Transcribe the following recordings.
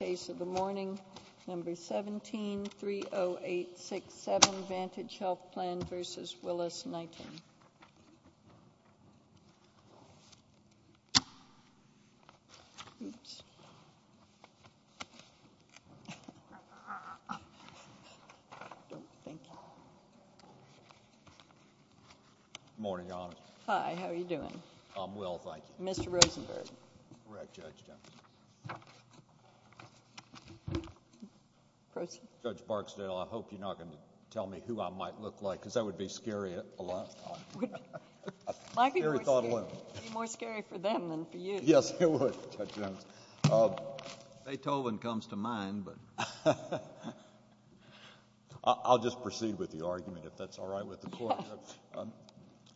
Case of the morning, No. 17-30867, Vantage Health Plan v. Willis-Knighton Morning, Your Honor. Hi, how are you doing? I'm well, thank you. Mr. Rosenberg. Correct, Judge Jones. Judge Barksdale, I hope you're not going to tell me who I might look like, because that would be scary at a lot of times. It would be more scary for them than for you. Yes, it would, Judge Jones. Beethoven comes to mind, but I'll just proceed with the argument, if that's all right with the Court. Yes.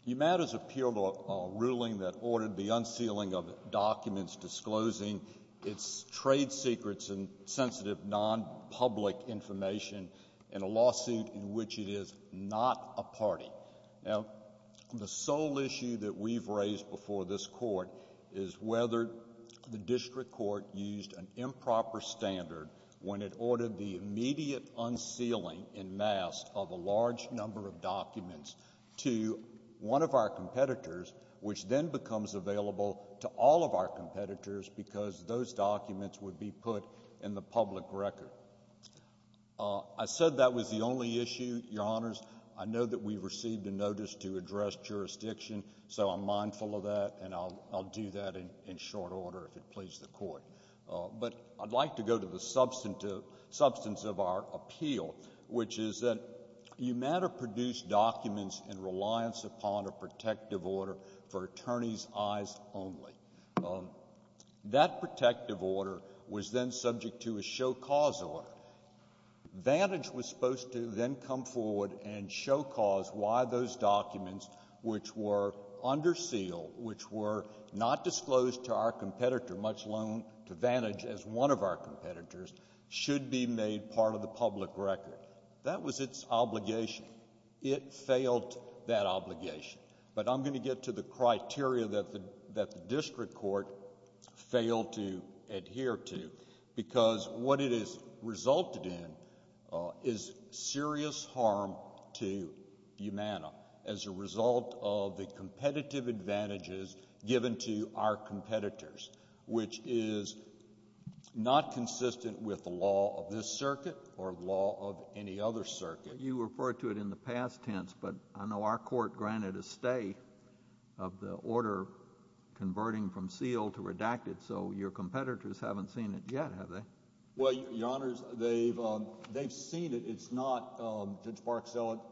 UMAD has appealed a ruling that ordered the unsealing of documents disclosing its trade secrets and sensitive nonpublic information in a lawsuit in which it is not a party. Now, the sole issue that we've raised before this Court is whether the district court used an improper standard when it ordered the immediate unsealing en masse of a large number of documents to one of our competitors, which then becomes available to all of our competitors because those documents would be put in the public record. I said that was the only issue, Your Honors. I know that we received a notice to address jurisdiction, so I'm mindful of that, and I'll do that in short order if it pleases the Court. But I'd like to go to the substance of our appeal, which is that UMAD produced documents in reliance upon a protective order for attorneys' eyes only. That protective order was then subject to a show-cause order. Vantage was supposed to then come forward and show cause why those documents which were under seal, which were not disclosed to our competitor, much alone to Vantage as one of our competitors, should be made part of the public record. That was its obligation. It failed that obligation. But I'm going to get to the criteria that the district court failed to adhere to because what it has resulted in is serious harm to UMANA as a result of the competitive advantages given to our competitors, which is not consistent with the law of this circuit or the law of any other circuit. You referred to it in the past tense, but I know our court granted a stay of the order converting from seal to redacted, so your competitors haven't seen it yet, have they? Well, Your Honors, they've seen it. It's not, Judge Barksdale,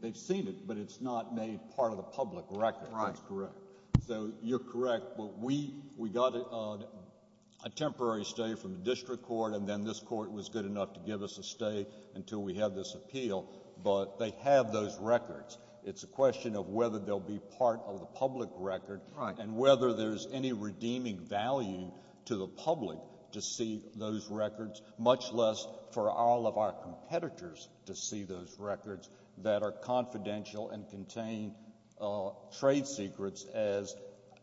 they've seen it, but it's not made part of the public record. That's correct. So you're correct. But we got a temporary stay from the district court, and then this court was good enough to give us a stay until we have this appeal, but they have those records. It's a question of whether they'll be part of the public record and whether there's any redeeming value to the public to see those records, much less for all of our competitors to see those records that are confidential and contain trade secrets as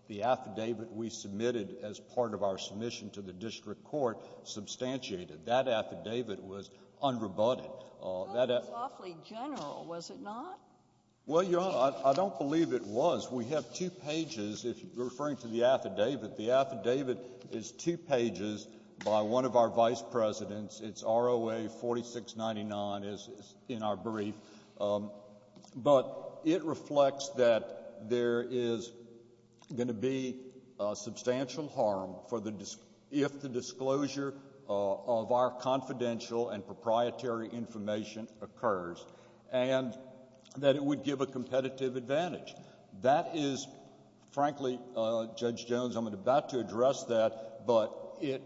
the affidavit we submitted as part of our submission to the district court substantiated. That affidavit was unrebutted. Well, it was awfully general, was it not? Well, Your Honor, I don't believe it was. We have two pages. If you're referring to the affidavit, the affidavit is two pages by one of our vice presidents. It's ROA 4699 in our brief. But it reflects that there is going to be substantial harm for the — if the disclosure of our confidential and proprietary information occurs, and that it would give a competitive advantage. That is, frankly, Judge Jones, I'm about to address that, but it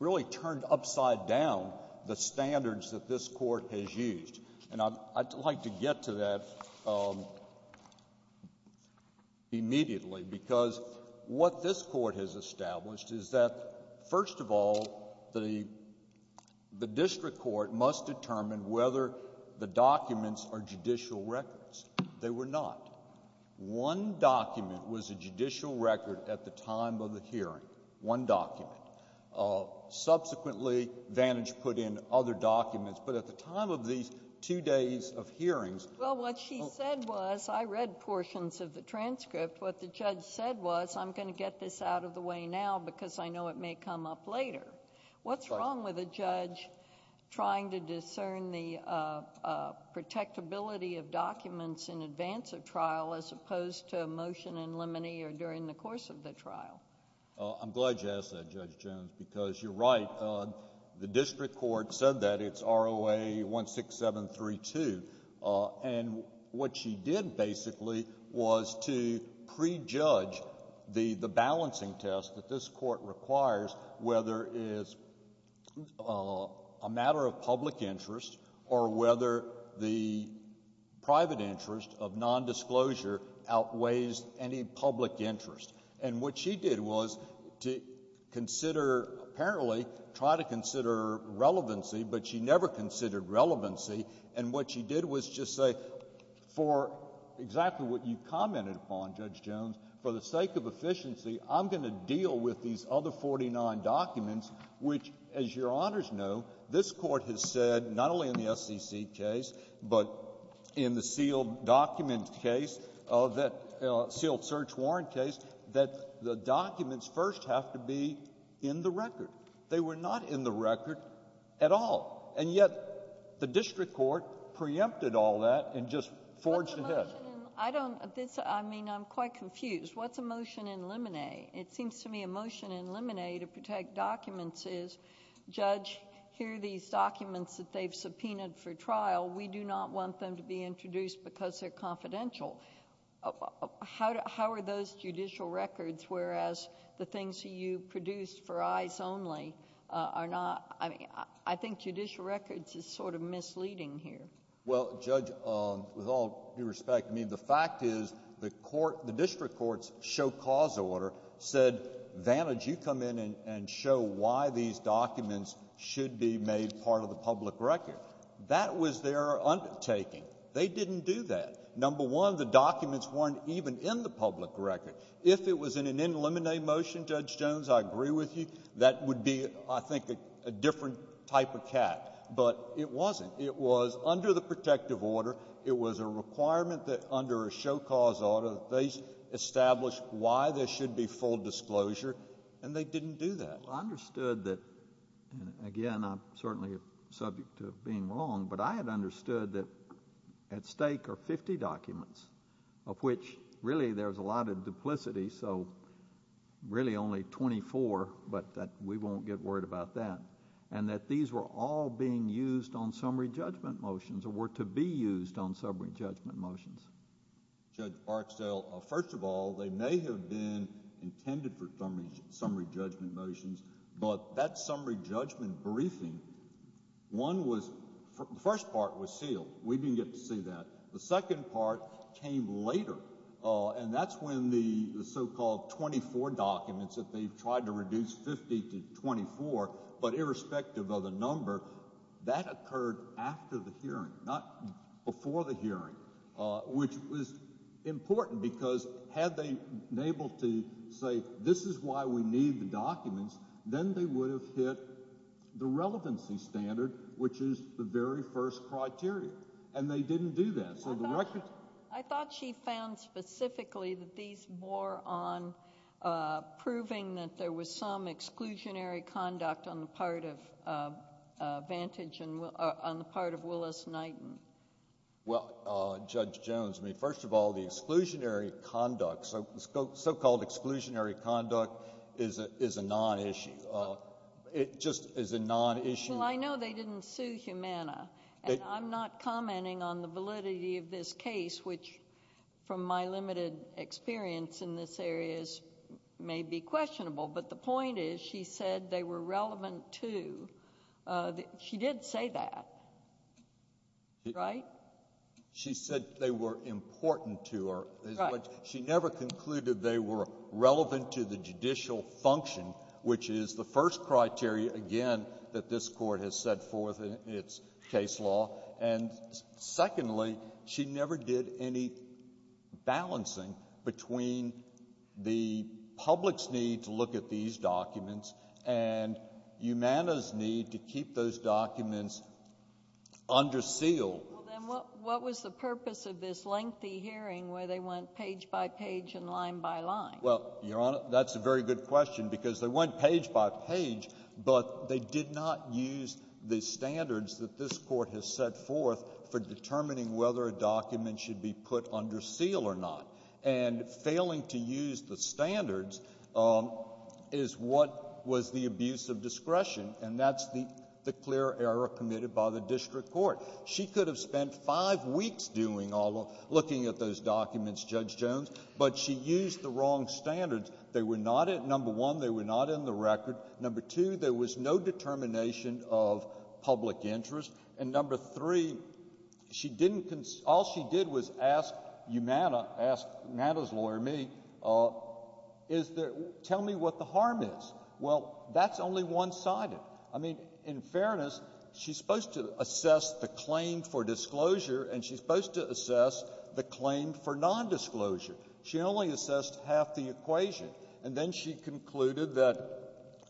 really turned upside down the standards that this Court has used. And I'd like to get to that immediately, because what this Court has established is that first of all, the district court must determine whether the documents are judicial records. They were not. One document was a judicial record at the time of the hearing, one document. Subsequently, Vantage put in other documents. But at the time of these two days of hearings — Well, what she said was — I read portions of the transcript. What the judge said was, I'm going to get this out of the way now because I know it may come up later. What's wrong with a judge trying to discern the protectability of documents in advance of trial as opposed to a motion in limine or during the course of the trial? I'm glad you asked that, Judge Jones, because you're right. The district court said that. It's ROA 16732. And what she did, basically, was to prejudge the balancing test that this Court requires whether it's a matter of public interest or whether the private interest of nondisclosure outweighs any public interest. And what she did was to consider, apparently, try to consider relevancy, but she never considered relevancy. And what she did was just say, for exactly what you commented upon, Judge Jones, for the sake of efficiency, I'm going to deal with these other 49 documents, which, as your honors know, this Court has said, not only in the SEC case, but in the sealed document case of that — sealed search warrant case, that the documents first have to be in the record. They were not in the record at all. And yet the district court preempted all that and just forged ahead. I'm quite confused. What's a motion in limine? It seems to me a motion in limine to protect documents is, Judge, here are these documents that they've subpoenaed for trial. We do not want them to be introduced because they're confidential. How are those judicial records, whereas the things that you produced for eyes only are not... I think judicial records is sort of misleading here. Well, Judge, with all due respect, I mean, the fact is the court — the district court's show-cause order said, Vantage, you come in and show why these documents should be made part of the public record. That was their undertaking. They didn't do that. Number one, the documents weren't even in the public record. If it was in an in limine motion, Judge Jones, I agree with you, that would be, I think, a different type of cat. But it wasn't. It was under the protective order. It was a requirement that under a show-cause order, they established why there should be full disclosure, and they didn't do that. I understood that, and again, I'm certainly subject to being wrong, but I had understood that at stake are 50 documents, of which, really, there's a lot of duplicity, so really only 24, but we won't get worried about that, and that these were all being used on summary judgment motions, or were to be used on summary judgment motions. Judge Barksdale, first of all, they may have been intended for summary judgment motions, but that summary judgment briefing, one was — the first part was sealed. We didn't get to see that. The second part came later, and that's when the so-called 24 documents that they tried to reduce 50 to 24, but irrespective of the number, that occurred after the hearing, not before the hearing, which was important, because had they been able to say, this is why we need the documents, then they would have hit the relevancy standard, which is the very first criteria, and they didn't do that. I thought she found specifically that these bore on proving that there was some exclusionary conduct on the part of Vantage and — on the part of Willis-Knighton. Well, Judge Jones, I mean, first of all, the exclusionary conduct, so-called exclusionary conduct is a non-issue. It just is a non-issue. Well, I know they didn't sue Humana, and I'm not commenting on the validity of this case, which, from my limited experience in this area, is — may be questionable. But the point is, she said they were relevant to — she did say that, right? She said they were important to her. Right. She never concluded they were relevant to the judicial function, which is the first criteria, again, that this Court has set forth in its case law. And secondly, she never did any balancing between the public's need to look at these documents and Humana's need to keep those documents under seal. Well, then, what was the purpose of this lengthy hearing where they went page by page and line by line? Well, Your Honor, that's a very good question, because they went page by page, but they did not use the standards that this Court has set forth for determining whether a document should be put under seal or not. And failing to use the standards is what was the abuse of discretion, and that's the clear error committed by the district court. She could have spent five weeks doing all — looking at those documents, Judge Jones, but she used the wrong standards. They were not — number one, they were not in the record. Number two, there was no determination of public interest. And number three, she didn't — all she did was ask Humana, ask Humana's lawyer, me, is there — tell me what the harm is. Well, that's only one-sided. I mean, in fairness, she's supposed to assess the claim for disclosure, and she's only assessed half the equation. And then she concluded that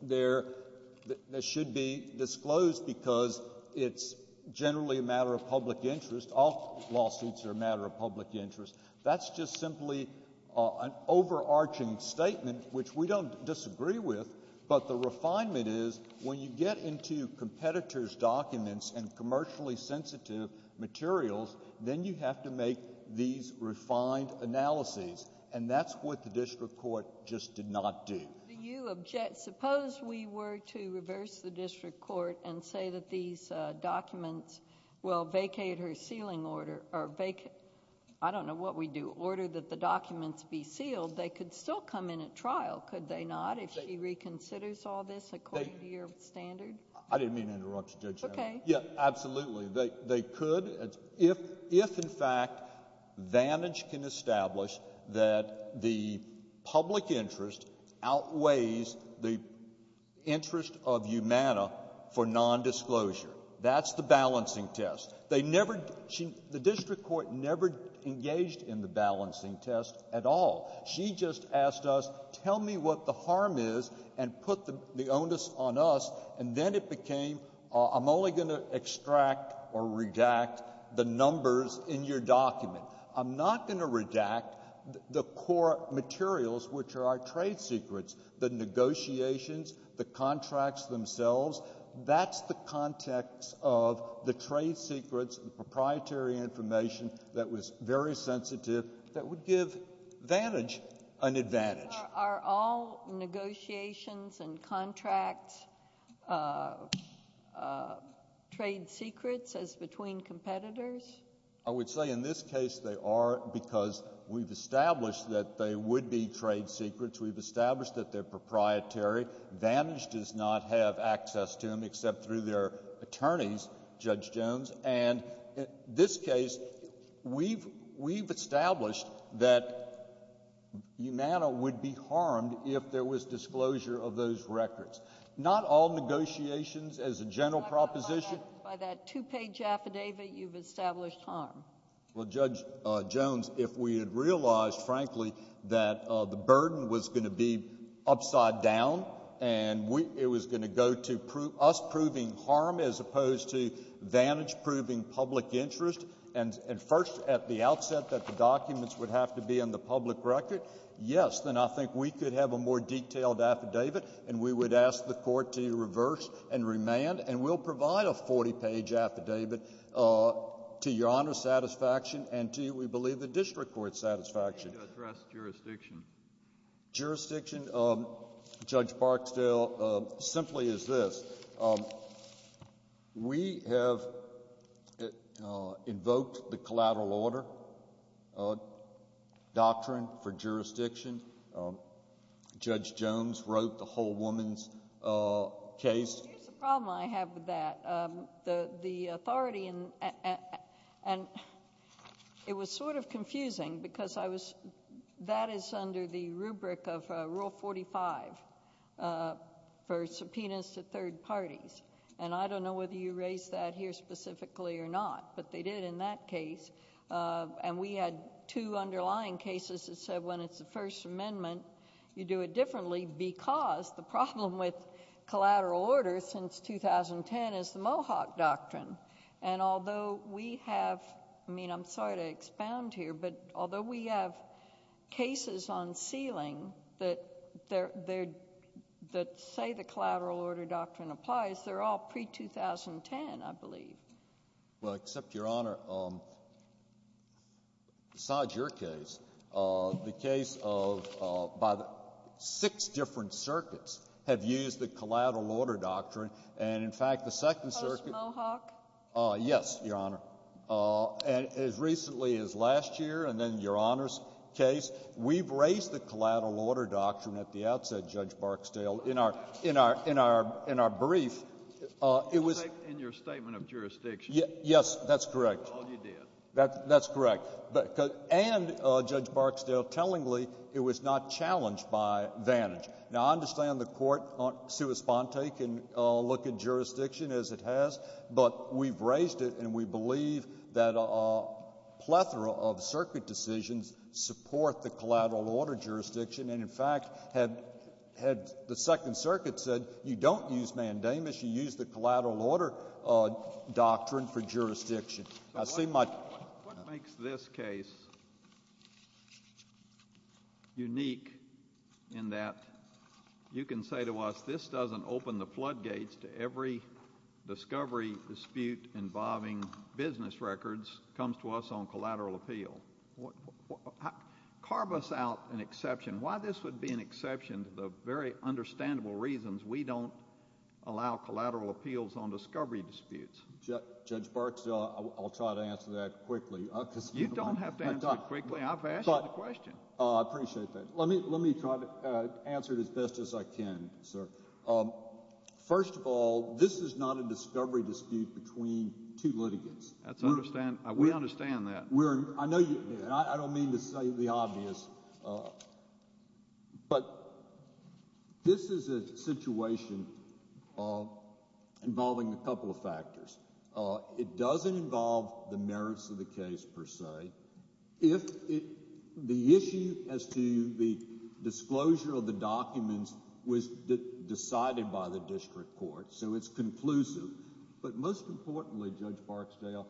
there — that it should be disclosed because it's generally a matter of public interest. All lawsuits are a matter of public interest. That's just simply an overarching statement, which we don't disagree with. But the refinement is, when you get into competitor's documents and commercially sensitive materials, then you have to make these refined analyses. And that's what the district court just did not do. Do you object — suppose we were to reverse the district court and say that these documents will vacate her sealing order — or vacate — I don't know what we do — order that the documents be sealed. They could still come in at trial, could they not, if she reconsiders all this according to your standard? I didn't mean to interrupt you, Judge Jones. OK. Yeah, absolutely. They — they could, if — if, in fact, Vantage can establish that the public interest outweighs the interest of Umana for nondisclosure. That's the balancing test. They never — the district court never engaged in the balancing test at all. She just asked us, tell me what the harm is, and put the — the onus on us. And then it became, I'm only going to extract or redact the numbers in your document. I'm not going to redact the core materials, which are our trade secrets, the negotiations, the contracts themselves. That's the context of the trade secrets, the proprietary information that was very sensitive, that would give Vantage an advantage. Are all negotiations and contracts trade secrets as between competitors? I would say in this case they are because we've established that they would be trade secrets. We've established that they're proprietary. Vantage does not have access to them except through their attorneys, Judge Jones. And in this case, we've — we've established that Umana would be harmed if there was disclosure of those records. Not all negotiations, as a general proposition — By that two-page affidavit, you've established harm. Well, Judge Jones, if we had realized, frankly, that the burden was going to be upside down and we — it was going to go to us proving harm as opposed to Vantage proving public interest, and first at the outset that the documents would have to be in the public record, yes, then I think we could have a more detailed affidavit, and we would ask the Court to reverse and remand. And we'll provide a 40-page affidavit to Your Honor's satisfaction and to, we believe, the district court's satisfaction. Can you address jurisdiction? Jurisdiction, Judge Barksdale, simply is this. We have invoked the collateral order doctrine for jurisdiction. Judge Jones wrote the whole woman's case. Here's the problem I have with that. The authority — and it was sort of confusing because I was — that is under the rubric of Rule 45 for subpoenas to third parties. And I don't know whether you raised that here specifically or not, but they did in that case. And we had two underlying cases that said when it's the First Amendment, you do it And although we have — I mean, I'm sorry to expound here, but although we have cases on ceiling that they're — that say the collateral order doctrine applies, they're all pre-2010, I believe. Well, except, Your Honor, besides your case, the case of — by the — six different circuits have used the collateral order doctrine, and, in fact, the Second Circuit Mohawk. Yes, Your Honor. And as recently as last year, and then Your Honor's case, we've raised the collateral order doctrine at the outset, Judge Barksdale, in our — in our — in our brief. It was — In your statement of jurisdiction. Yes, that's correct. That's all you did. That's correct. But — and, Judge Barksdale, tellingly, it was not challenged by vantage. Now, I understand the Court, sui sponte, can look at jurisdiction as it has, but we've raised it, and we believe that a plethora of circuit decisions support the collateral order jurisdiction, and, in fact, had — had the Second Circuit said, you don't use mandamus, you use the collateral order doctrine for jurisdiction. I see my — What makes this case unique in that you can say to us, this doesn't open the floodgates to every discovery dispute involving business records comes to us on collateral appeal? Carve us out an exception. Why this would be an exception to the very understandable reasons we don't allow collateral appeals on discovery disputes? Judge Barksdale, I'll try to answer that quickly, because — You don't have to answer it quickly. I've asked you the question. I appreciate that. Let me — let me try to answer it as best as I can, sir. First of all, this is not a discovery dispute between two litigants. That's — we understand that. We're — I know you — and I don't mean to say the obvious, but this is a situation of — involving a couple of factors. It doesn't involve the merits of the case, per se. If it — the issue as to the disclosure of the documents was decided by the district court, so it's conclusive. But most importantly, Judge Barksdale,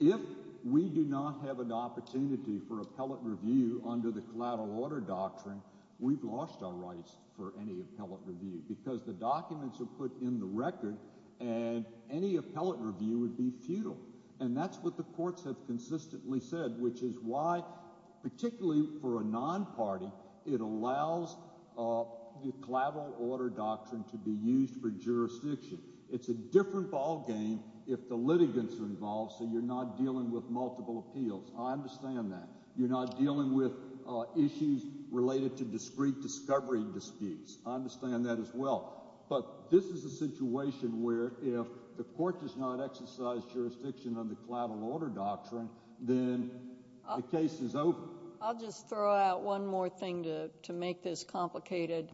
if we do not have an opportunity for appellate review under the collateral order doctrine, we've lost our rights for any appellate review, because the documents are put in the record, and any appellate review would be futile. And that's what the courts have consistently said, which is why, particularly for a non-party, it allows the collateral order doctrine to be used for jurisdiction. It's a different ballgame if the litigants are involved, so you're not dealing with multiple appeals. I understand that. You're not dealing with issues related to discrete discovery disputes. I understand that as well. But this is a situation where, if the Court does not exercise jurisdiction on the collateral order doctrine, then the case is over. I'll just throw out one more thing to make this complicated.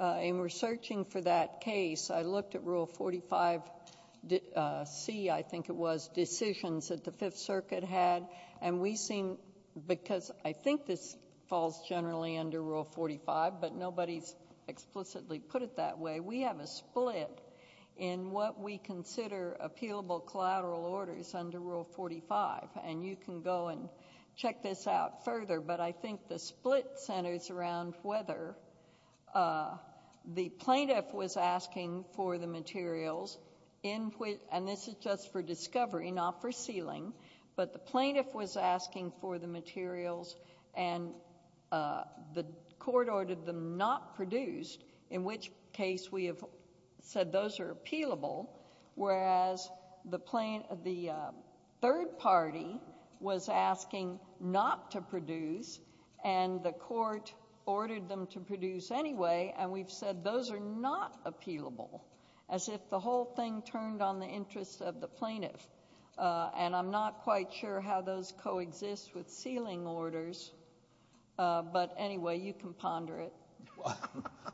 In researching for that case, I looked at Rule 45C, I think it was, decisions that the Fifth Circuit had, and we seem — because I think this falls generally under Rule 45, but nobody's explicitly put it that way — we have a split in what we consider appealable collateral orders under Rule 45, and you can go and check this out further. But I think the split centers around whether the plaintiff was asking for the materials in which — and this is just for discovery, not for sealing — but the plaintiff was them not produced, in which case we have said those are appealable, whereas the third party was asking not to produce, and the Court ordered them to produce anyway, and we've said those are not appealable, as if the whole thing turned on the interests of the plaintiff. And I'm not quite sure how those coexist with sealing orders, but anyway, you can ponder it. JUSTICE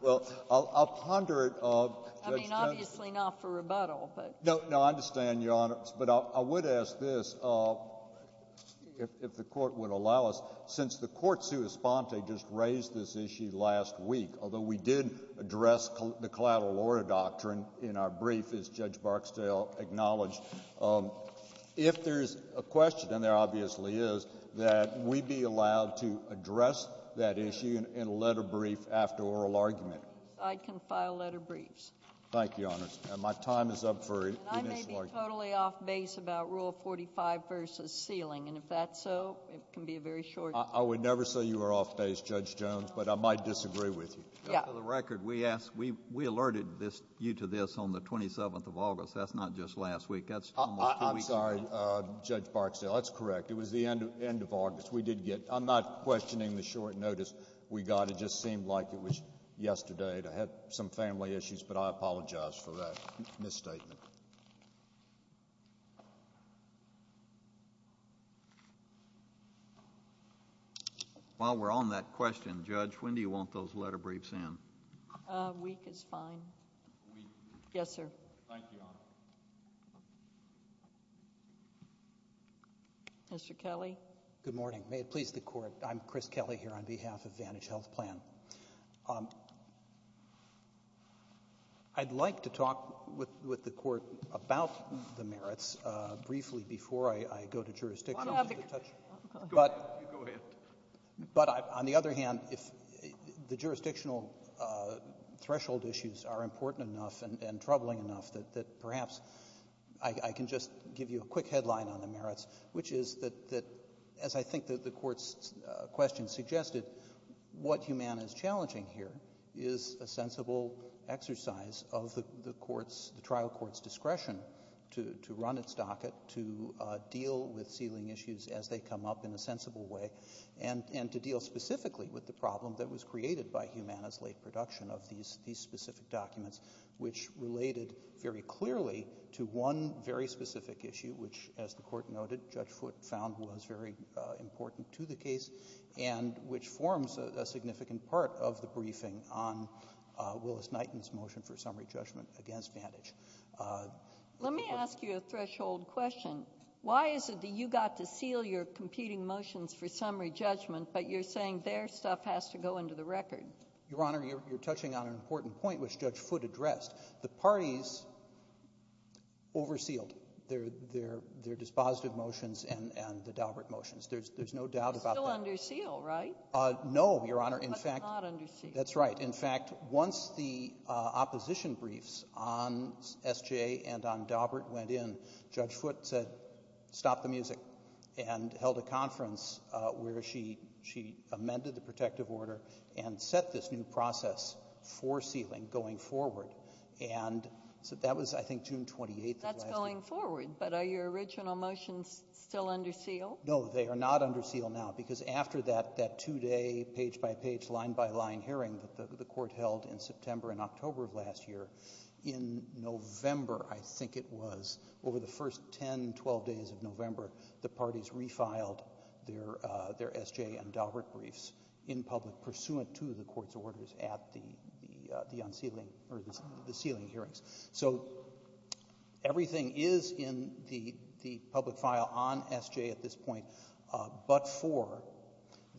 BREYER. Well, I'll ponder it. JUSTICE GINSBURG. I mean, obviously not for rebuttal, but — JUSTICE BREYER. No, I understand, Your Honor, but I would ask this, if the Court would allow us. Since the court sua sponte just raised this issue last week, although we did address the collateral order doctrine in our brief, as Judge Barksdale acknowledged, if there's a question, and there obviously is, that we be allowed to address that issue in a letter brief after oral argument. JUSTICE GINSBURG. I can file letter briefs. JUSTICE BREYER. Thank you, Your Honor, and my time is up for initial argument. JUSTICE GINSBURG. And I may be totally off-base about Rule 45 versus sealing, and if that's so, it can be a very short — JUSTICE BREYER. I would never say you are off-base, Judge Jones, but I might disagree with you. JUSTICE GINSBURG. Yeah. JUSTICE BREYER. For the record, we asked — we alerted this — you to this on the 27th of August. That's not just last week. That's almost two weeks ago. JUSTICE BREYER. I'm sorry, Judge Barksdale. That's correct. It was the end of August. We did get — I'm not questioning the short notice we got. It just seemed like it was yesterday. And I had some family issues, but I apologize for that misstatement. JUSTICE KENNEDY. While we're on that question, Judge, when do you want those letter briefs in? JUSTICE GINSBURG. A week is fine. JUSTICE KENNEDY. A week. JUSTICE GINSBURG. Yes, sir. JUSTICE KENNEDY. Thank you, Your Honor. JUSTICE KENNEDY. Mr. Kelley. MR. KELLEY. Good morning. May it please the Court, I'm Chris Kelley here on behalf of Vantage Health Plan. I'd like to talk with the Court about the merits briefly before I go to jurisdiction. But on the other hand, if the jurisdictional threshold issues are important enough and troubling enough, that perhaps I can just give you a quick headline on the merits, which is that, as I think the Court's question suggested, what Humana is challenging here is a sensible exercise of the trial court's discretion to run its docket, to deal with ceiling issues as they come up in a sensible way, and to deal specifically with the problem that was created by Humana's late production of these specific documents, which related very clearly to one very specific issue, which, as the Court noted, Judge Foote found was very important to the case, and which forms a significant part of the briefing on Willis-Knighton's motion for summary judgment against Vantage. JUSTICE SOTOMAYOR. Let me ask you a threshold question. Why is it that you got to seal your competing motions for summary judgment, but you're saying their stuff has to go into the record? MR. KELLEY. Your Honor, you're touching on an important point, which Judge Foote addressed. The parties oversealed their dispositive motions and the Daubert motions. There's no doubt about that. JUSTICE SOTOMAYOR. It's still under seal, right? MR. KELLEY. No, Your Honor. JUSTICE SOTOMAYOR. But it's not under seal. MR. KELLEY. That's right. In fact, once the opposition briefs on S.J. and on Daubert went in, Judge Foote said, stop the music, and held a conference where she amended the protective order and set this new process for sealing going forward. And so that was, I think, June 28th of last year. JUSTICE SOTOMAYOR. That's going forward. But are your original motions still under seal? MR. KELLEY. No, they are not under seal now, because after that two-day, page-by-page, line-by-line hearing that the Court held in September and October of last year, in November, I think it was, over the first 10, 12 days of November, the parties refiled their S.J. and Daubert briefs in public pursuant to the Court's orders at the sealing hearings. So everything is in the public file on S.J. at this point, but for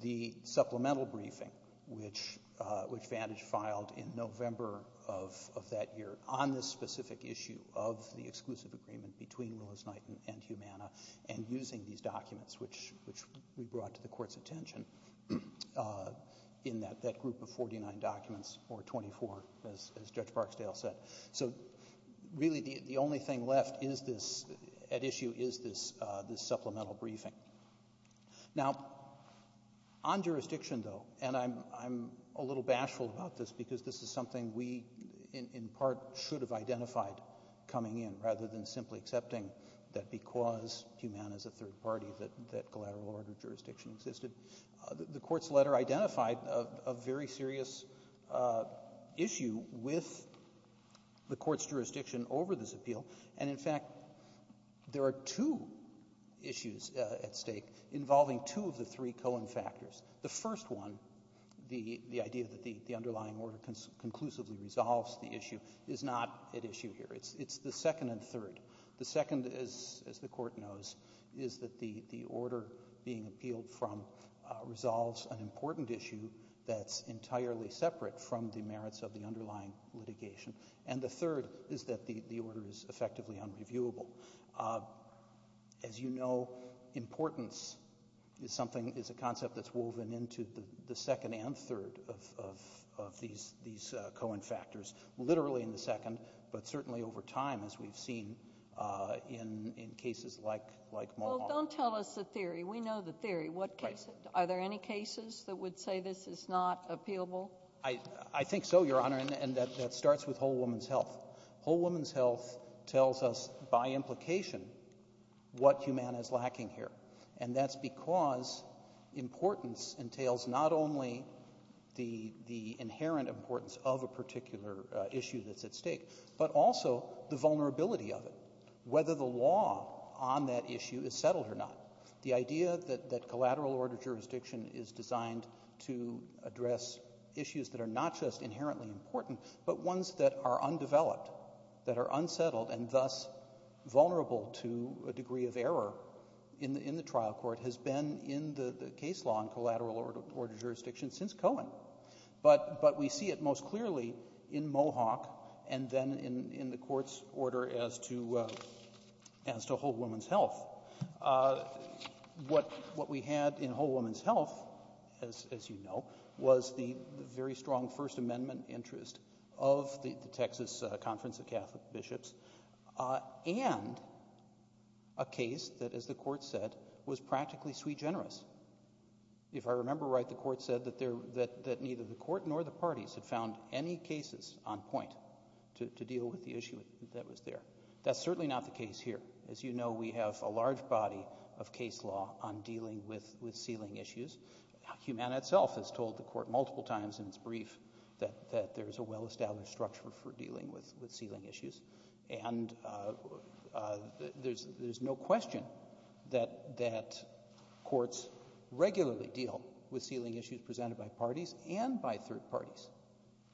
the supplemental briefing, which Vantage filed in November of that year on this specific issue of the documents, which we brought to the Court's attention, in that group of 49 documents, or 24, as Judge Barksdale said. So really, the only thing left is this, at issue, is this supplemental briefing. Now, on jurisdiction, though, and I'm a little bashful about this, because this is something we, in part, should have identified coming in, rather than simply accepting that because Humana is a third party, that collateral order jurisdiction existed. The Court's letter identified a very serious issue with the Court's jurisdiction over this appeal. And in fact, there are two issues at stake involving two of the three Cohen factors. The first one, the idea that the underlying order conclusively resolves the issue, is not at issue here. It's the second and third. The second, as the Court knows, is that the order being appealed from resolves an important issue that's entirely separate from the merits of the underlying litigation. And the third is that the order is effectively unreviewable. As you know, importance is a concept that's woven into the second and third of these Cohen factors, literally in the second, but certainly over time, as we've seen in cases like Mohawk. Well, don't tell us the theory. We know the theory. What case? Are there any cases that would say this is not appealable? I think so, Your Honor, and that starts with Whole Woman's Health. Whole Woman's Health tells us, by implication, what Humana is lacking here. And that's because importance entails not only the inherent importance of a particular issue that's at stake, but also the vulnerability of it, whether the law on that issue is settled or not. The idea that collateral order jurisdiction is designed to address issues that are not just inherently important, but ones that are undeveloped, that are unsettled, and thus vulnerable to a degree of error in the trial court has been in the case law and collateral order jurisdiction since Cohen. But we see it most clearly in Mohawk and then in the Court's order as to Whole Woman's Health. What we had in Whole Woman's Health, as you know, was the very strong First Amendment interest of the Texas Conference of Catholic Bishops and a case that, as the Court said, was practically sui generis. If I remember right, the Court said that neither the Court nor the parties had found any cases on point to deal with the issue that was there. That's certainly not the case here. As you know, we have a large body of case law on dealing with ceiling issues. Humana itself has told the Court multiple times in its brief that there's a well-established structure for dealing with ceiling issues, and there's no question that courts regularly deal with ceiling issues presented by parties and by third parties.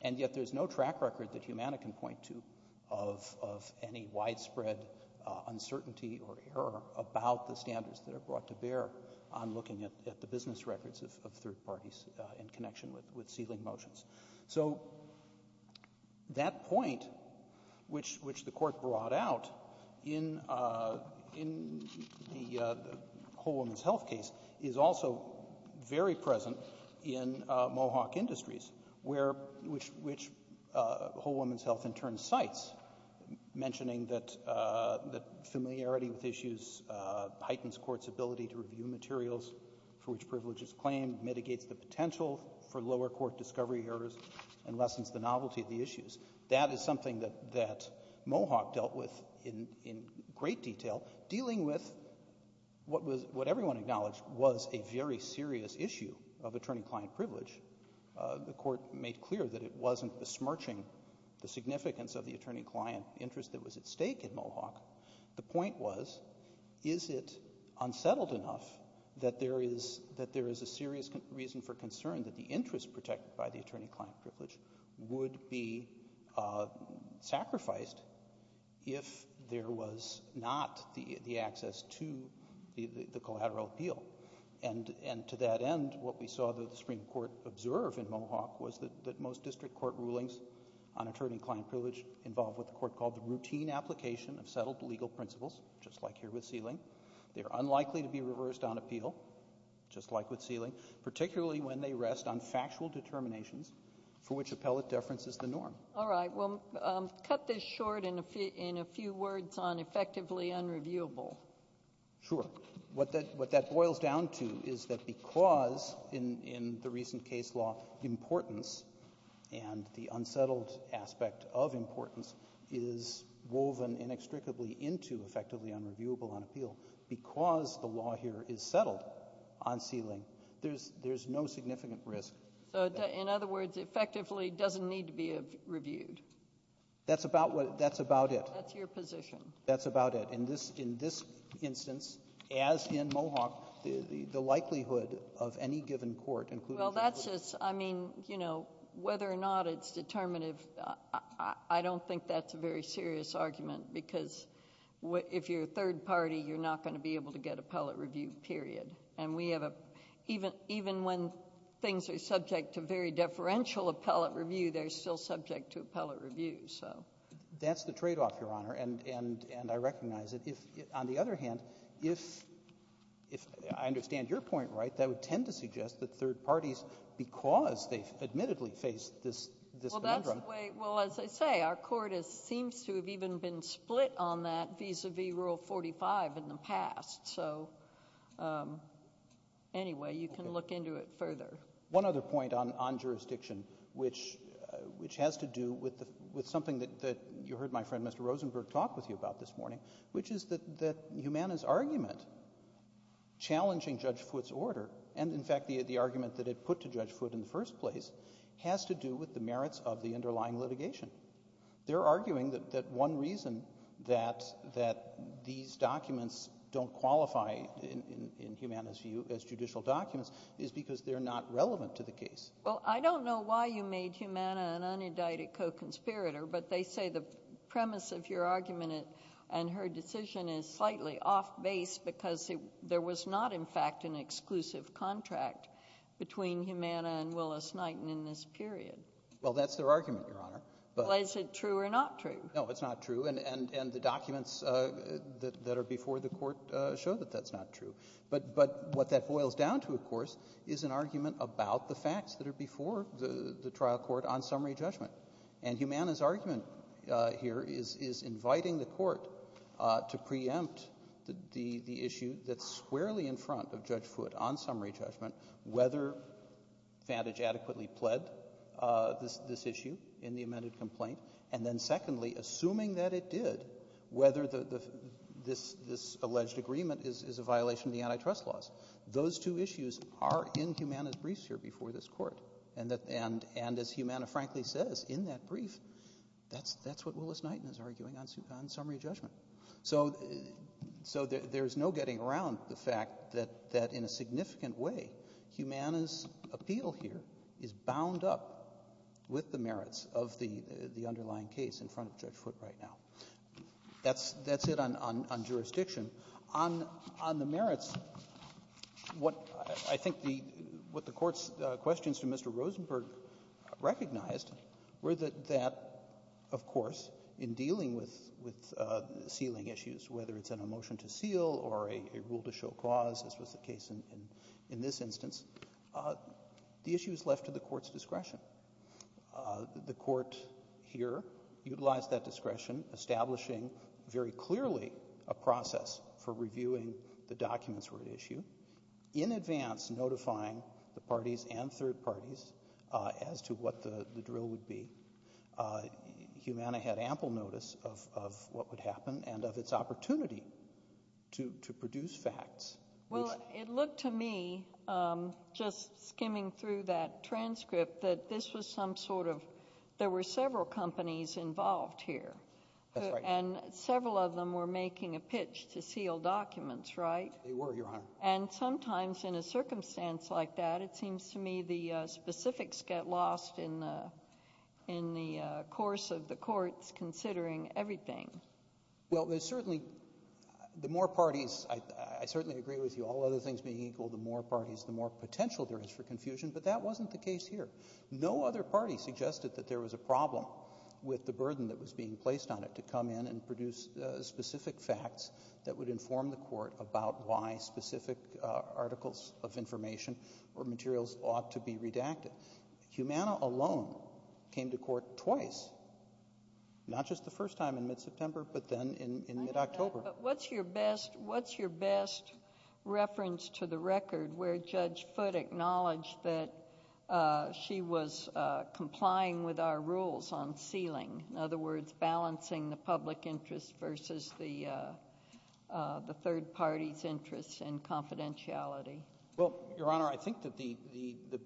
And yet there's no track record that Humana can point to of any widespread uncertainty or error about the standards that are brought to bear on looking at the business records of third parties in connection with ceiling motions. So that point, which the Court brought out in the Whole Woman's Health case, is also very present in Mohawk Industries, which Whole Woman's Health in turn cites, mentioning that familiarity with issues heightens courts' ability to review materials for which privilege is claimed, mitigates the potential for lower court discovery errors, and lessens the novelty of the issues. That is something that Mohawk dealt with in great detail. Dealing with what everyone acknowledged was a very serious issue of attorney-client privilege, the Court made clear that it wasn't besmirching the significance of the attorney-client interest that was at stake in Mohawk. The point was, is it unsettled enough that there is a serious reason for concern that the interest protected by the attorney-client privilege would be sacrificed if there was not the access to the collateral appeal? And to that end, what we saw the Supreme Court observe in Mohawk was that most district court rulings on attorney-client privilege involve what the Court called the routine application of settled legal principles, just like here with Sealing. They are unlikely to be reversed on appeal, just like with Sealing, particularly when they rest on factual determinations for which appellate deference is the norm. All right. Well, cut this short in a few words on effectively unreviewable. Sure. What that boils down to is that because, in the recent case law, importance and the unsettled aspect of importance is woven inextricably into effectively unreviewable on appeal, because the law here is settled on Sealing, there's no significant risk. So in other words, effectively doesn't need to be reviewed. That's about what — that's about it. That's your position. That's about it. In this instance, as in Mohawk, the likelihood of any given court, including — Well, that's just — I mean, you know, whether or not it's determinative, I don't think that's a very serious argument, because if you're a third party, you're not going to be able to get appellate review, period. And we have a — even when things are subject to very deferential appellate review, they're still subject to appellate review. So — That's the tradeoff, Your Honor, and I recognize it. On the other hand, if — I understand your point, right? That would tend to suggest that third parties, because they've admittedly faced this conundrum — Well, that's the way — well, as I say, our Court has — seems to have even been split on that vis-à-vis Rule 45 in the past. So anyway, you can look into it further. One other point on jurisdiction, which has to do with something that you heard my friend Mr. Rosenberg talk with you about this morning, which is that Humana's argument challenging Judge Foote's order — and, in fact, the argument that it put to Judge Foote in the first place — has to do with the merits of the underlying litigation. They're arguing that one reason that these documents don't qualify in Humana's view as judicial documents is because they're not relevant to the case. Well, I don't know why you made Humana an unindicted co-conspirator, but they say the premise of your argument and her decision is slightly off-base, because there was not, in fact, an exclusive contract between Humana and Willis-Knighton in this period. Well, that's their argument, Your Honor. Well, is it true or not true? No, it's not true. And the documents that are before the Court show that that's not true. But what that boils down to, of course, is an argument about the facts that are before the trial court on summary judgment. And Humana's argument here is inviting the Court to preempt the issue that's squarely in front of Judge Foote on summary judgment, whether Vantage adequately pled this issue in the amended complaint, and then secondly, assuming that it did, whether this alleged agreement is a violation of the antitrust laws. Those two issues are in Humana's briefs here before this Court. And as Humana frankly says in that brief, that's what Willis-Knighton is arguing on summary judgment. So there's no getting around the fact that in a significant way, Humana's appeal here is bound up with the merits of the underlying case in front of Judge Foote right now. That's it on jurisdiction. On the merits, what I think the Court's questions to Mr. Rosenberg recognized were that, of course, in dealing with sealing issues, whether it's in a motion to seal or a rule to show clause, as was the case in this instance, the issue is left to the Court's discretion. The Court here utilized that discretion, establishing very clearly a process for reviewing the documents for an issue, in advance notifying the parties and third parties as to what the drill would be. Humana had ample notice of what would happen and of its opportunity to produce facts. Well, it looked to me, just skimming through that transcript, that this was some sort of, there were several companies involved here. That's right. And several of them were making a pitch to seal documents, right? They were, Your Honor. And sometimes in a circumstance like that, it seems to me the specifics get lost in the course of the Court's considering everything. Well, there's certainly, the more parties, I certainly agree with you, all other things being equal, the more parties, the more potential there is for confusion, but that wasn't the case here. No other party suggested that there was a problem with the burden that was being articles of information or materials ought to be redacted. Humana alone came to court twice, not just the first time in mid-September, but then in mid-October. What's your best, what's your best reference to the record where Judge Foote acknowledged that she was complying with our rules on sealing, in other words, balancing the public interest and confidentiality? Well, Your Honor, I think that the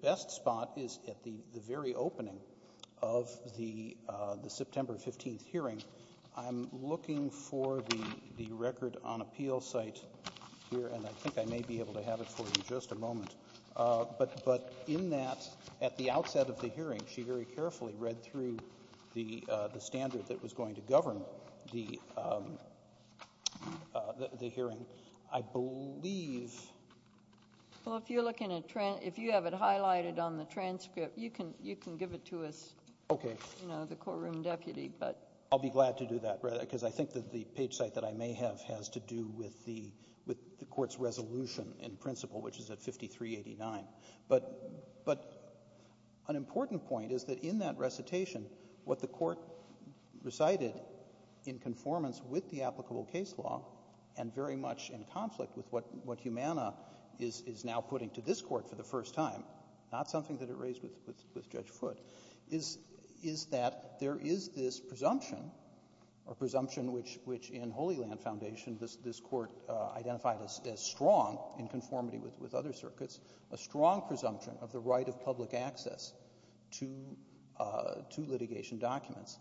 best spot is at the very opening of the September 15th hearing. I'm looking for the record on appeal site here, and I think I may be able to have it for you in just a moment. But in that, at the outset of the hearing, she very carefully read through the standard that was going to govern the hearing. I believe. Well, if you're looking at, if you have it highlighted on the transcript, you can give it to us. Okay. You know, the courtroom deputy, but. I'll be glad to do that, because I think that the page site that I may have has to do with the court's resolution in principle, which is at 5389. But an important point is that in that recitation, what the court recited in conformance with the applicable case law, and very much in conflict with what Humana is now putting to this court for the first time, not something that it raised with Judge Foote, is that there is this presumption, or presumption which in Holy Land Foundation, this court identified as strong in conformity with other circuits, a strong presumption of the right of public access to litigation documents.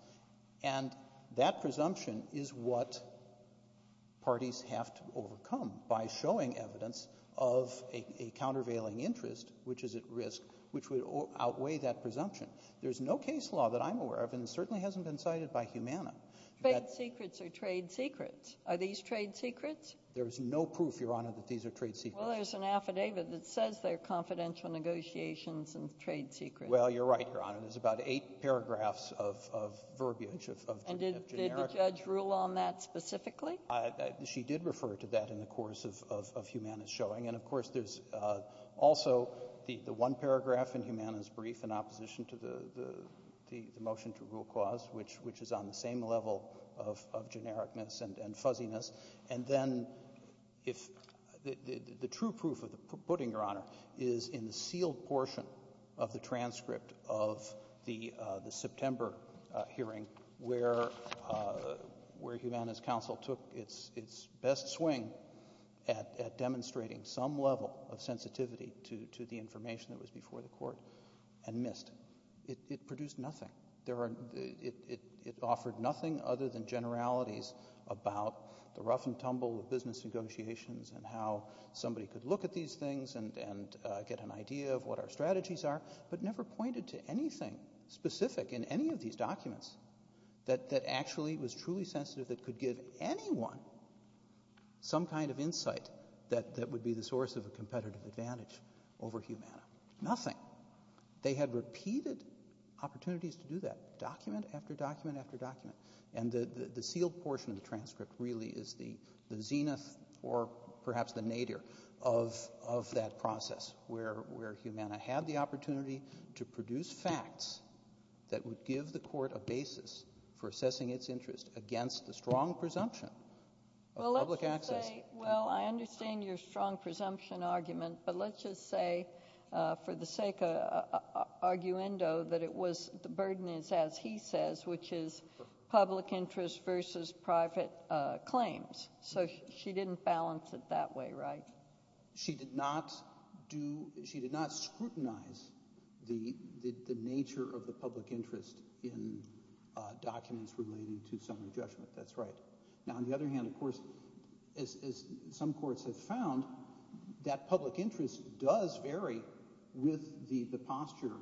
And that presumption is what parties have to overcome by showing evidence of a countervailing interest, which is at risk, which would outweigh that presumption. There's no case law that I'm aware of, and it certainly hasn't been cited by Humana. Trade secrets are trade secrets. Are these trade secrets? There's no proof, Your Honor, that these are trade secrets. Well, there's an affidavit that says they're confidential negotiations and trade secrets. Well, you're right, Your Honor. There's about eight paragraphs of verbiage of generic. And did the judge rule on that specifically? She did refer to that in the course of Humana's showing. And of course, there's also the one paragraph in Humana's brief in opposition to the motion to rule clause, which is on the same level of genericness and fuzziness. And then if the true proof of the pudding, Your Honor, is in the sealed portion of the transcript of the September hearing where Humana's counsel took its best swing at demonstrating some level of sensitivity to the information that was before the Court and missed. It produced nothing. It offered nothing other than generalities about the rough and tumble of business negotiations and how somebody could look at these things and get an idea of what our strategies are, but never pointed to anything specific in any of these documents that actually was truly sensitive that could give anyone some kind of insight that would be the source of a competitive advantage over Humana. Nothing. They had repeated opportunities to do that, document after document after document. And the sealed portion of the transcript really is the zenith or perhaps the nadir of that process where Humana had the opportunity to produce facts that would give the Court a basis for assessing its interest against the strong presumption of public access. Well, let's just say, well, I understand your strong presumption argument, but let's just say, for the sake of arguendo, that it was, the burden is, as he says, which is public interest versus private claims. So she didn't balance it that way, right? She did not scrutinize the nature of the public interest in documents relating to summary judgment. That's right. Now, on the other hand, of course, as some courts have found, that public interest does vary with the posture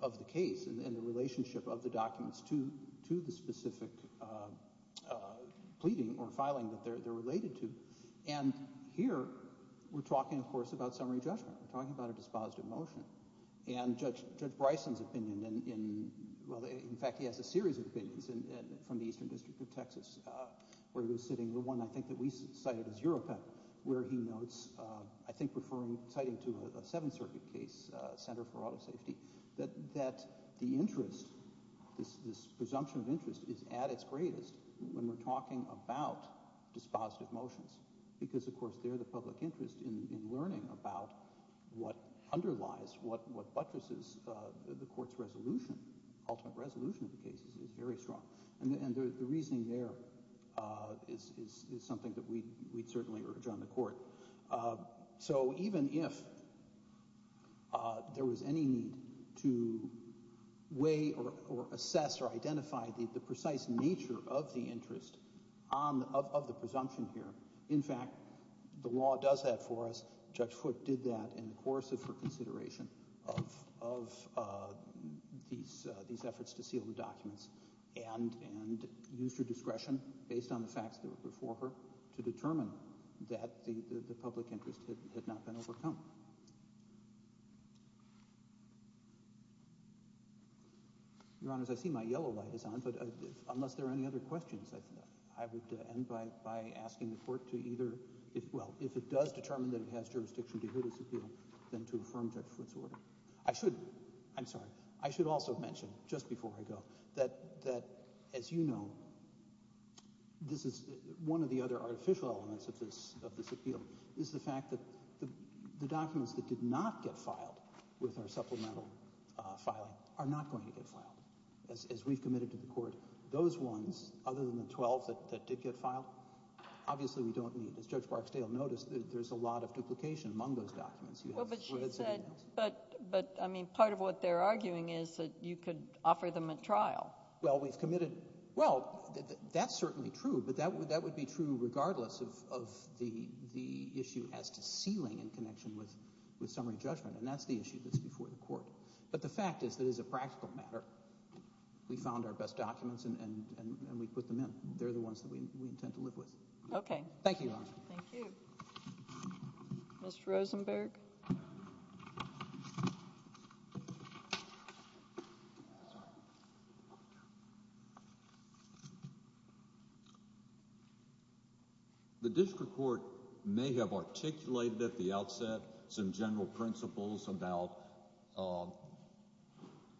of the case and the relationship of the documents to the specific pleading or filing that they're related to. And here, we're talking, of course, about summary judgment. We're talking about a dispositive motion. And Judge Bryson's opinion in, well, in fact, he has a series of opinions from the Eastern District of Texas, where he was sitting, the one, I think, that we cited as European, where he notes, I think, referring, citing to a Seventh Circuit case, Center for Auto Safety, that the interest, this presumption of interest is at its greatest when we're talking about dispositive motions, because, of course, they're the public interest in learning about what underlies, what buttresses the Court's resolution, ultimate resolution of the cases is very strong. And the reasoning there is something that we'd certainly urge on the Court. So even if there was any need to weigh or assess or identify the precise nature of the interest of the presumption here, in fact, the law does that for us. Judge Foote did that in the course of her consideration of these efforts to seal the case, and used her discretion, based on the facts that were before her, to determine that the public interest had not been overcome. Your Honors, I see my yellow light is on, but unless there are any other questions, I would end by asking the Court to either, well, if it does determine that it has jurisdiction to hear this appeal, then to affirm Judge Foote's order. I should, I'm sorry, I should also mention, just before I go, that, as you know, this is one of the other artificial elements of this appeal, is the fact that the documents that did not get filed with our supplemental filing are not going to get filed, as we've committed to the Court. Those ones, other than the 12 that did get filed, obviously we don't need. As Judge Barksdale noticed, there's a lot of duplication among those documents. Well, but she said, but, I mean, part of what they're arguing is that you could offer them a trial. Well, we've committed, well, that's certainly true, but that would be true regardless of the issue as to sealing in connection with summary judgment, and that's the issue that's before the Court. But the fact is that as a practical matter, we found our best documents and we put them in. They're the ones that we intend to live with. Okay. Thank you, Your Honor. Thank you. Mr. Rosenberg? The District Court may have articulated at the outset some general principles about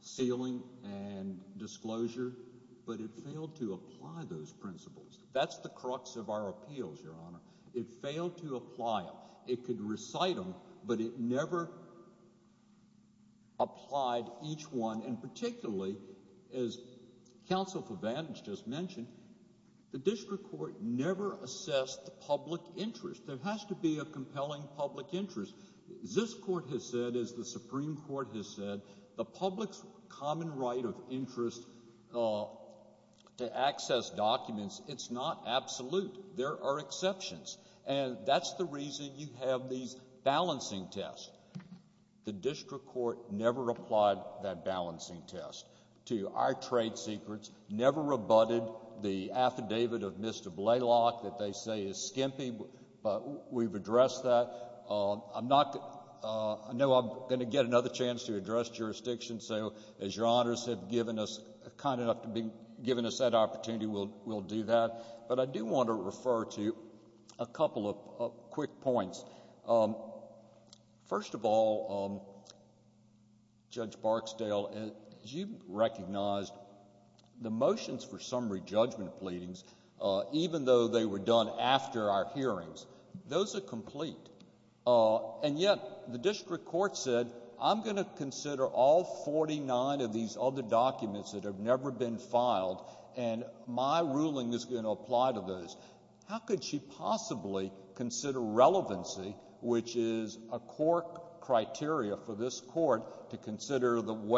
sealing and disclosure, but it failed to apply those principles. That's the crux of our appeals, Your Honor. It failed to apply them. It could recite them, but it never applied each one, and particularly, as Counsel for Vantage just mentioned, the District Court never assessed the public interest. There has to be a compelling public interest. This Court has said, as the Supreme Court has said, the public's common right of interest to access documents, it's not absolute. There are exceptions. And that's the reason you have these balancing tests. The District Court never applied that balancing test to our trade secrets, never rebutted the affidavit of Mr. Blaylock that they say is skimpy, but we've addressed that. I'm not... I know I'm going to get another chance to address jurisdiction, so as Your Honors have given us... kind enough to be giving us that opportunity, we'll do that. But I do want to refer to a couple of quick points. First of all, Judge Barksdale, as you've recognized, the motions for summary judgment pleadings, even though they were done after our hearings, those are complete. And yet, the District Court said, I'm going to consider all 49 of these other documents that have never been filed, and my ruling is going to apply to those. How could she possibly consider relevancy, which is a core criteria for this Court to consider in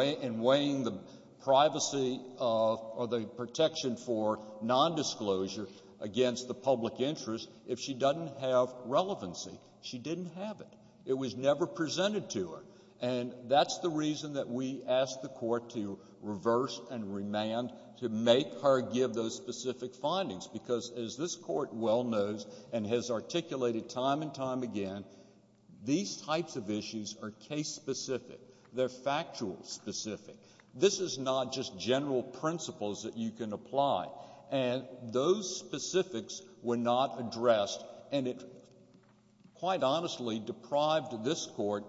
weighing the privacy or the protection for nondisclosure against the public interest, if she doesn't have relevancy? She didn't have it. It was never presented to her. And that's the reason that we asked the Court to reverse and remand, to make her give those specific findings, because as this Court well knows and has articulated time and time again, these types of issues are case-specific. They're factual-specific. This is not just general principles that you can apply. And those specifics were not addressed, and it, quite honestly, deprived this Court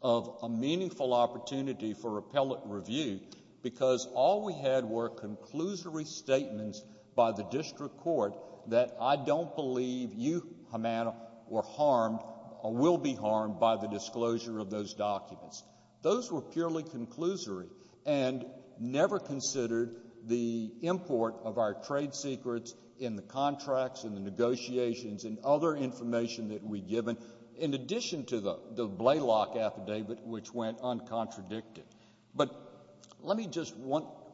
of a meaningful opportunity for appellate review, because all we had were conclusory statements by the District Court that I don't believe you, Hamana, were harmed or will be harmed by the disclosure of those documents. Those were purely conclusory and never considered the import of our trade secrets in the contracts and the negotiations and other information that we'd given, in addition to the Blaylock affidavit, which went uncontradicted. But let me just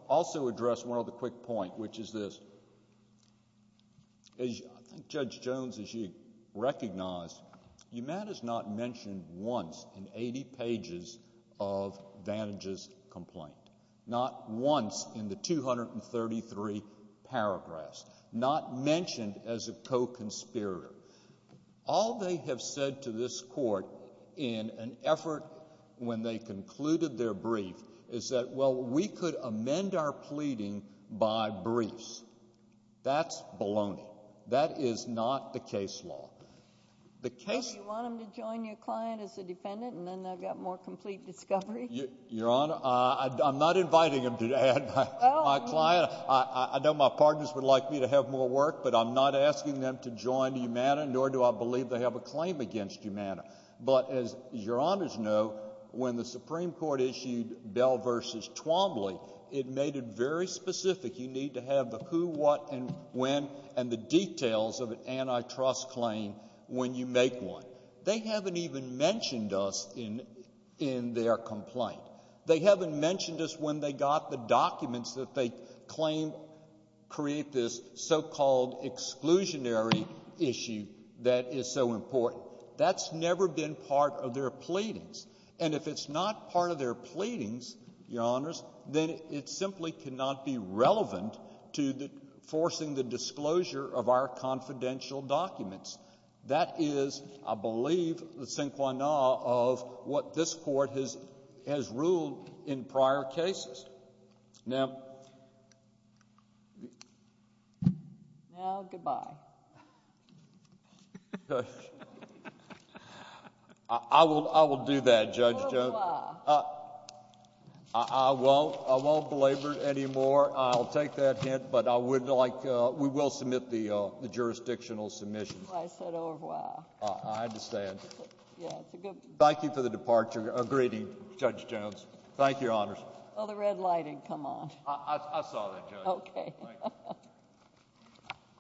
also address one other quick point, which is this. I think Judge Jones, as you recognize, Hamana's not mentioned once in 80 pages of Vantage's complaint, not once in the 233 paragraphs, not mentioned as a co-conspirator. All they have said to this Court in an effort when they concluded their brief is that, well, we could amend our pleading by briefs. That's baloney. That is not the case law. The case— Well, do you want them to join your client as a defendant, and then they'll get more complete discovery? Your Honor, I'm not inviting them to join my client. I know my partners would like me to have more work, but I'm not asking them to join Hamana, nor do I believe they have a claim against Hamana. But as Your Honors know, when the Supreme Court issued Bell v. Twombly, it made it very specific. You need to have the who, what, and when, and the details of an antitrust claim when you make one. They haven't even mentioned us in their complaint. They haven't mentioned us when they got the documents that they claim create this so-called exclusionary issue that is so important. That's never been part of their pleadings. And if it's not part of their pleadings, Your Honors, then it simply cannot be relevant to forcing the disclosure of our confidential documents. That is, I believe, the sinquanah of what this Court has ruled in prior cases. Now... Now, goodbye. I will do that, Judge Jones. Au revoir. I won't belabor it anymore. I'll take that hint, but we will submit the jurisdictional submission. I said au revoir. I understand. Thank you for the departure. A greeting, Judge Jones. Thank you, Your Honors. Oh, the red lighting. Come on. I saw that, Judge. Okay.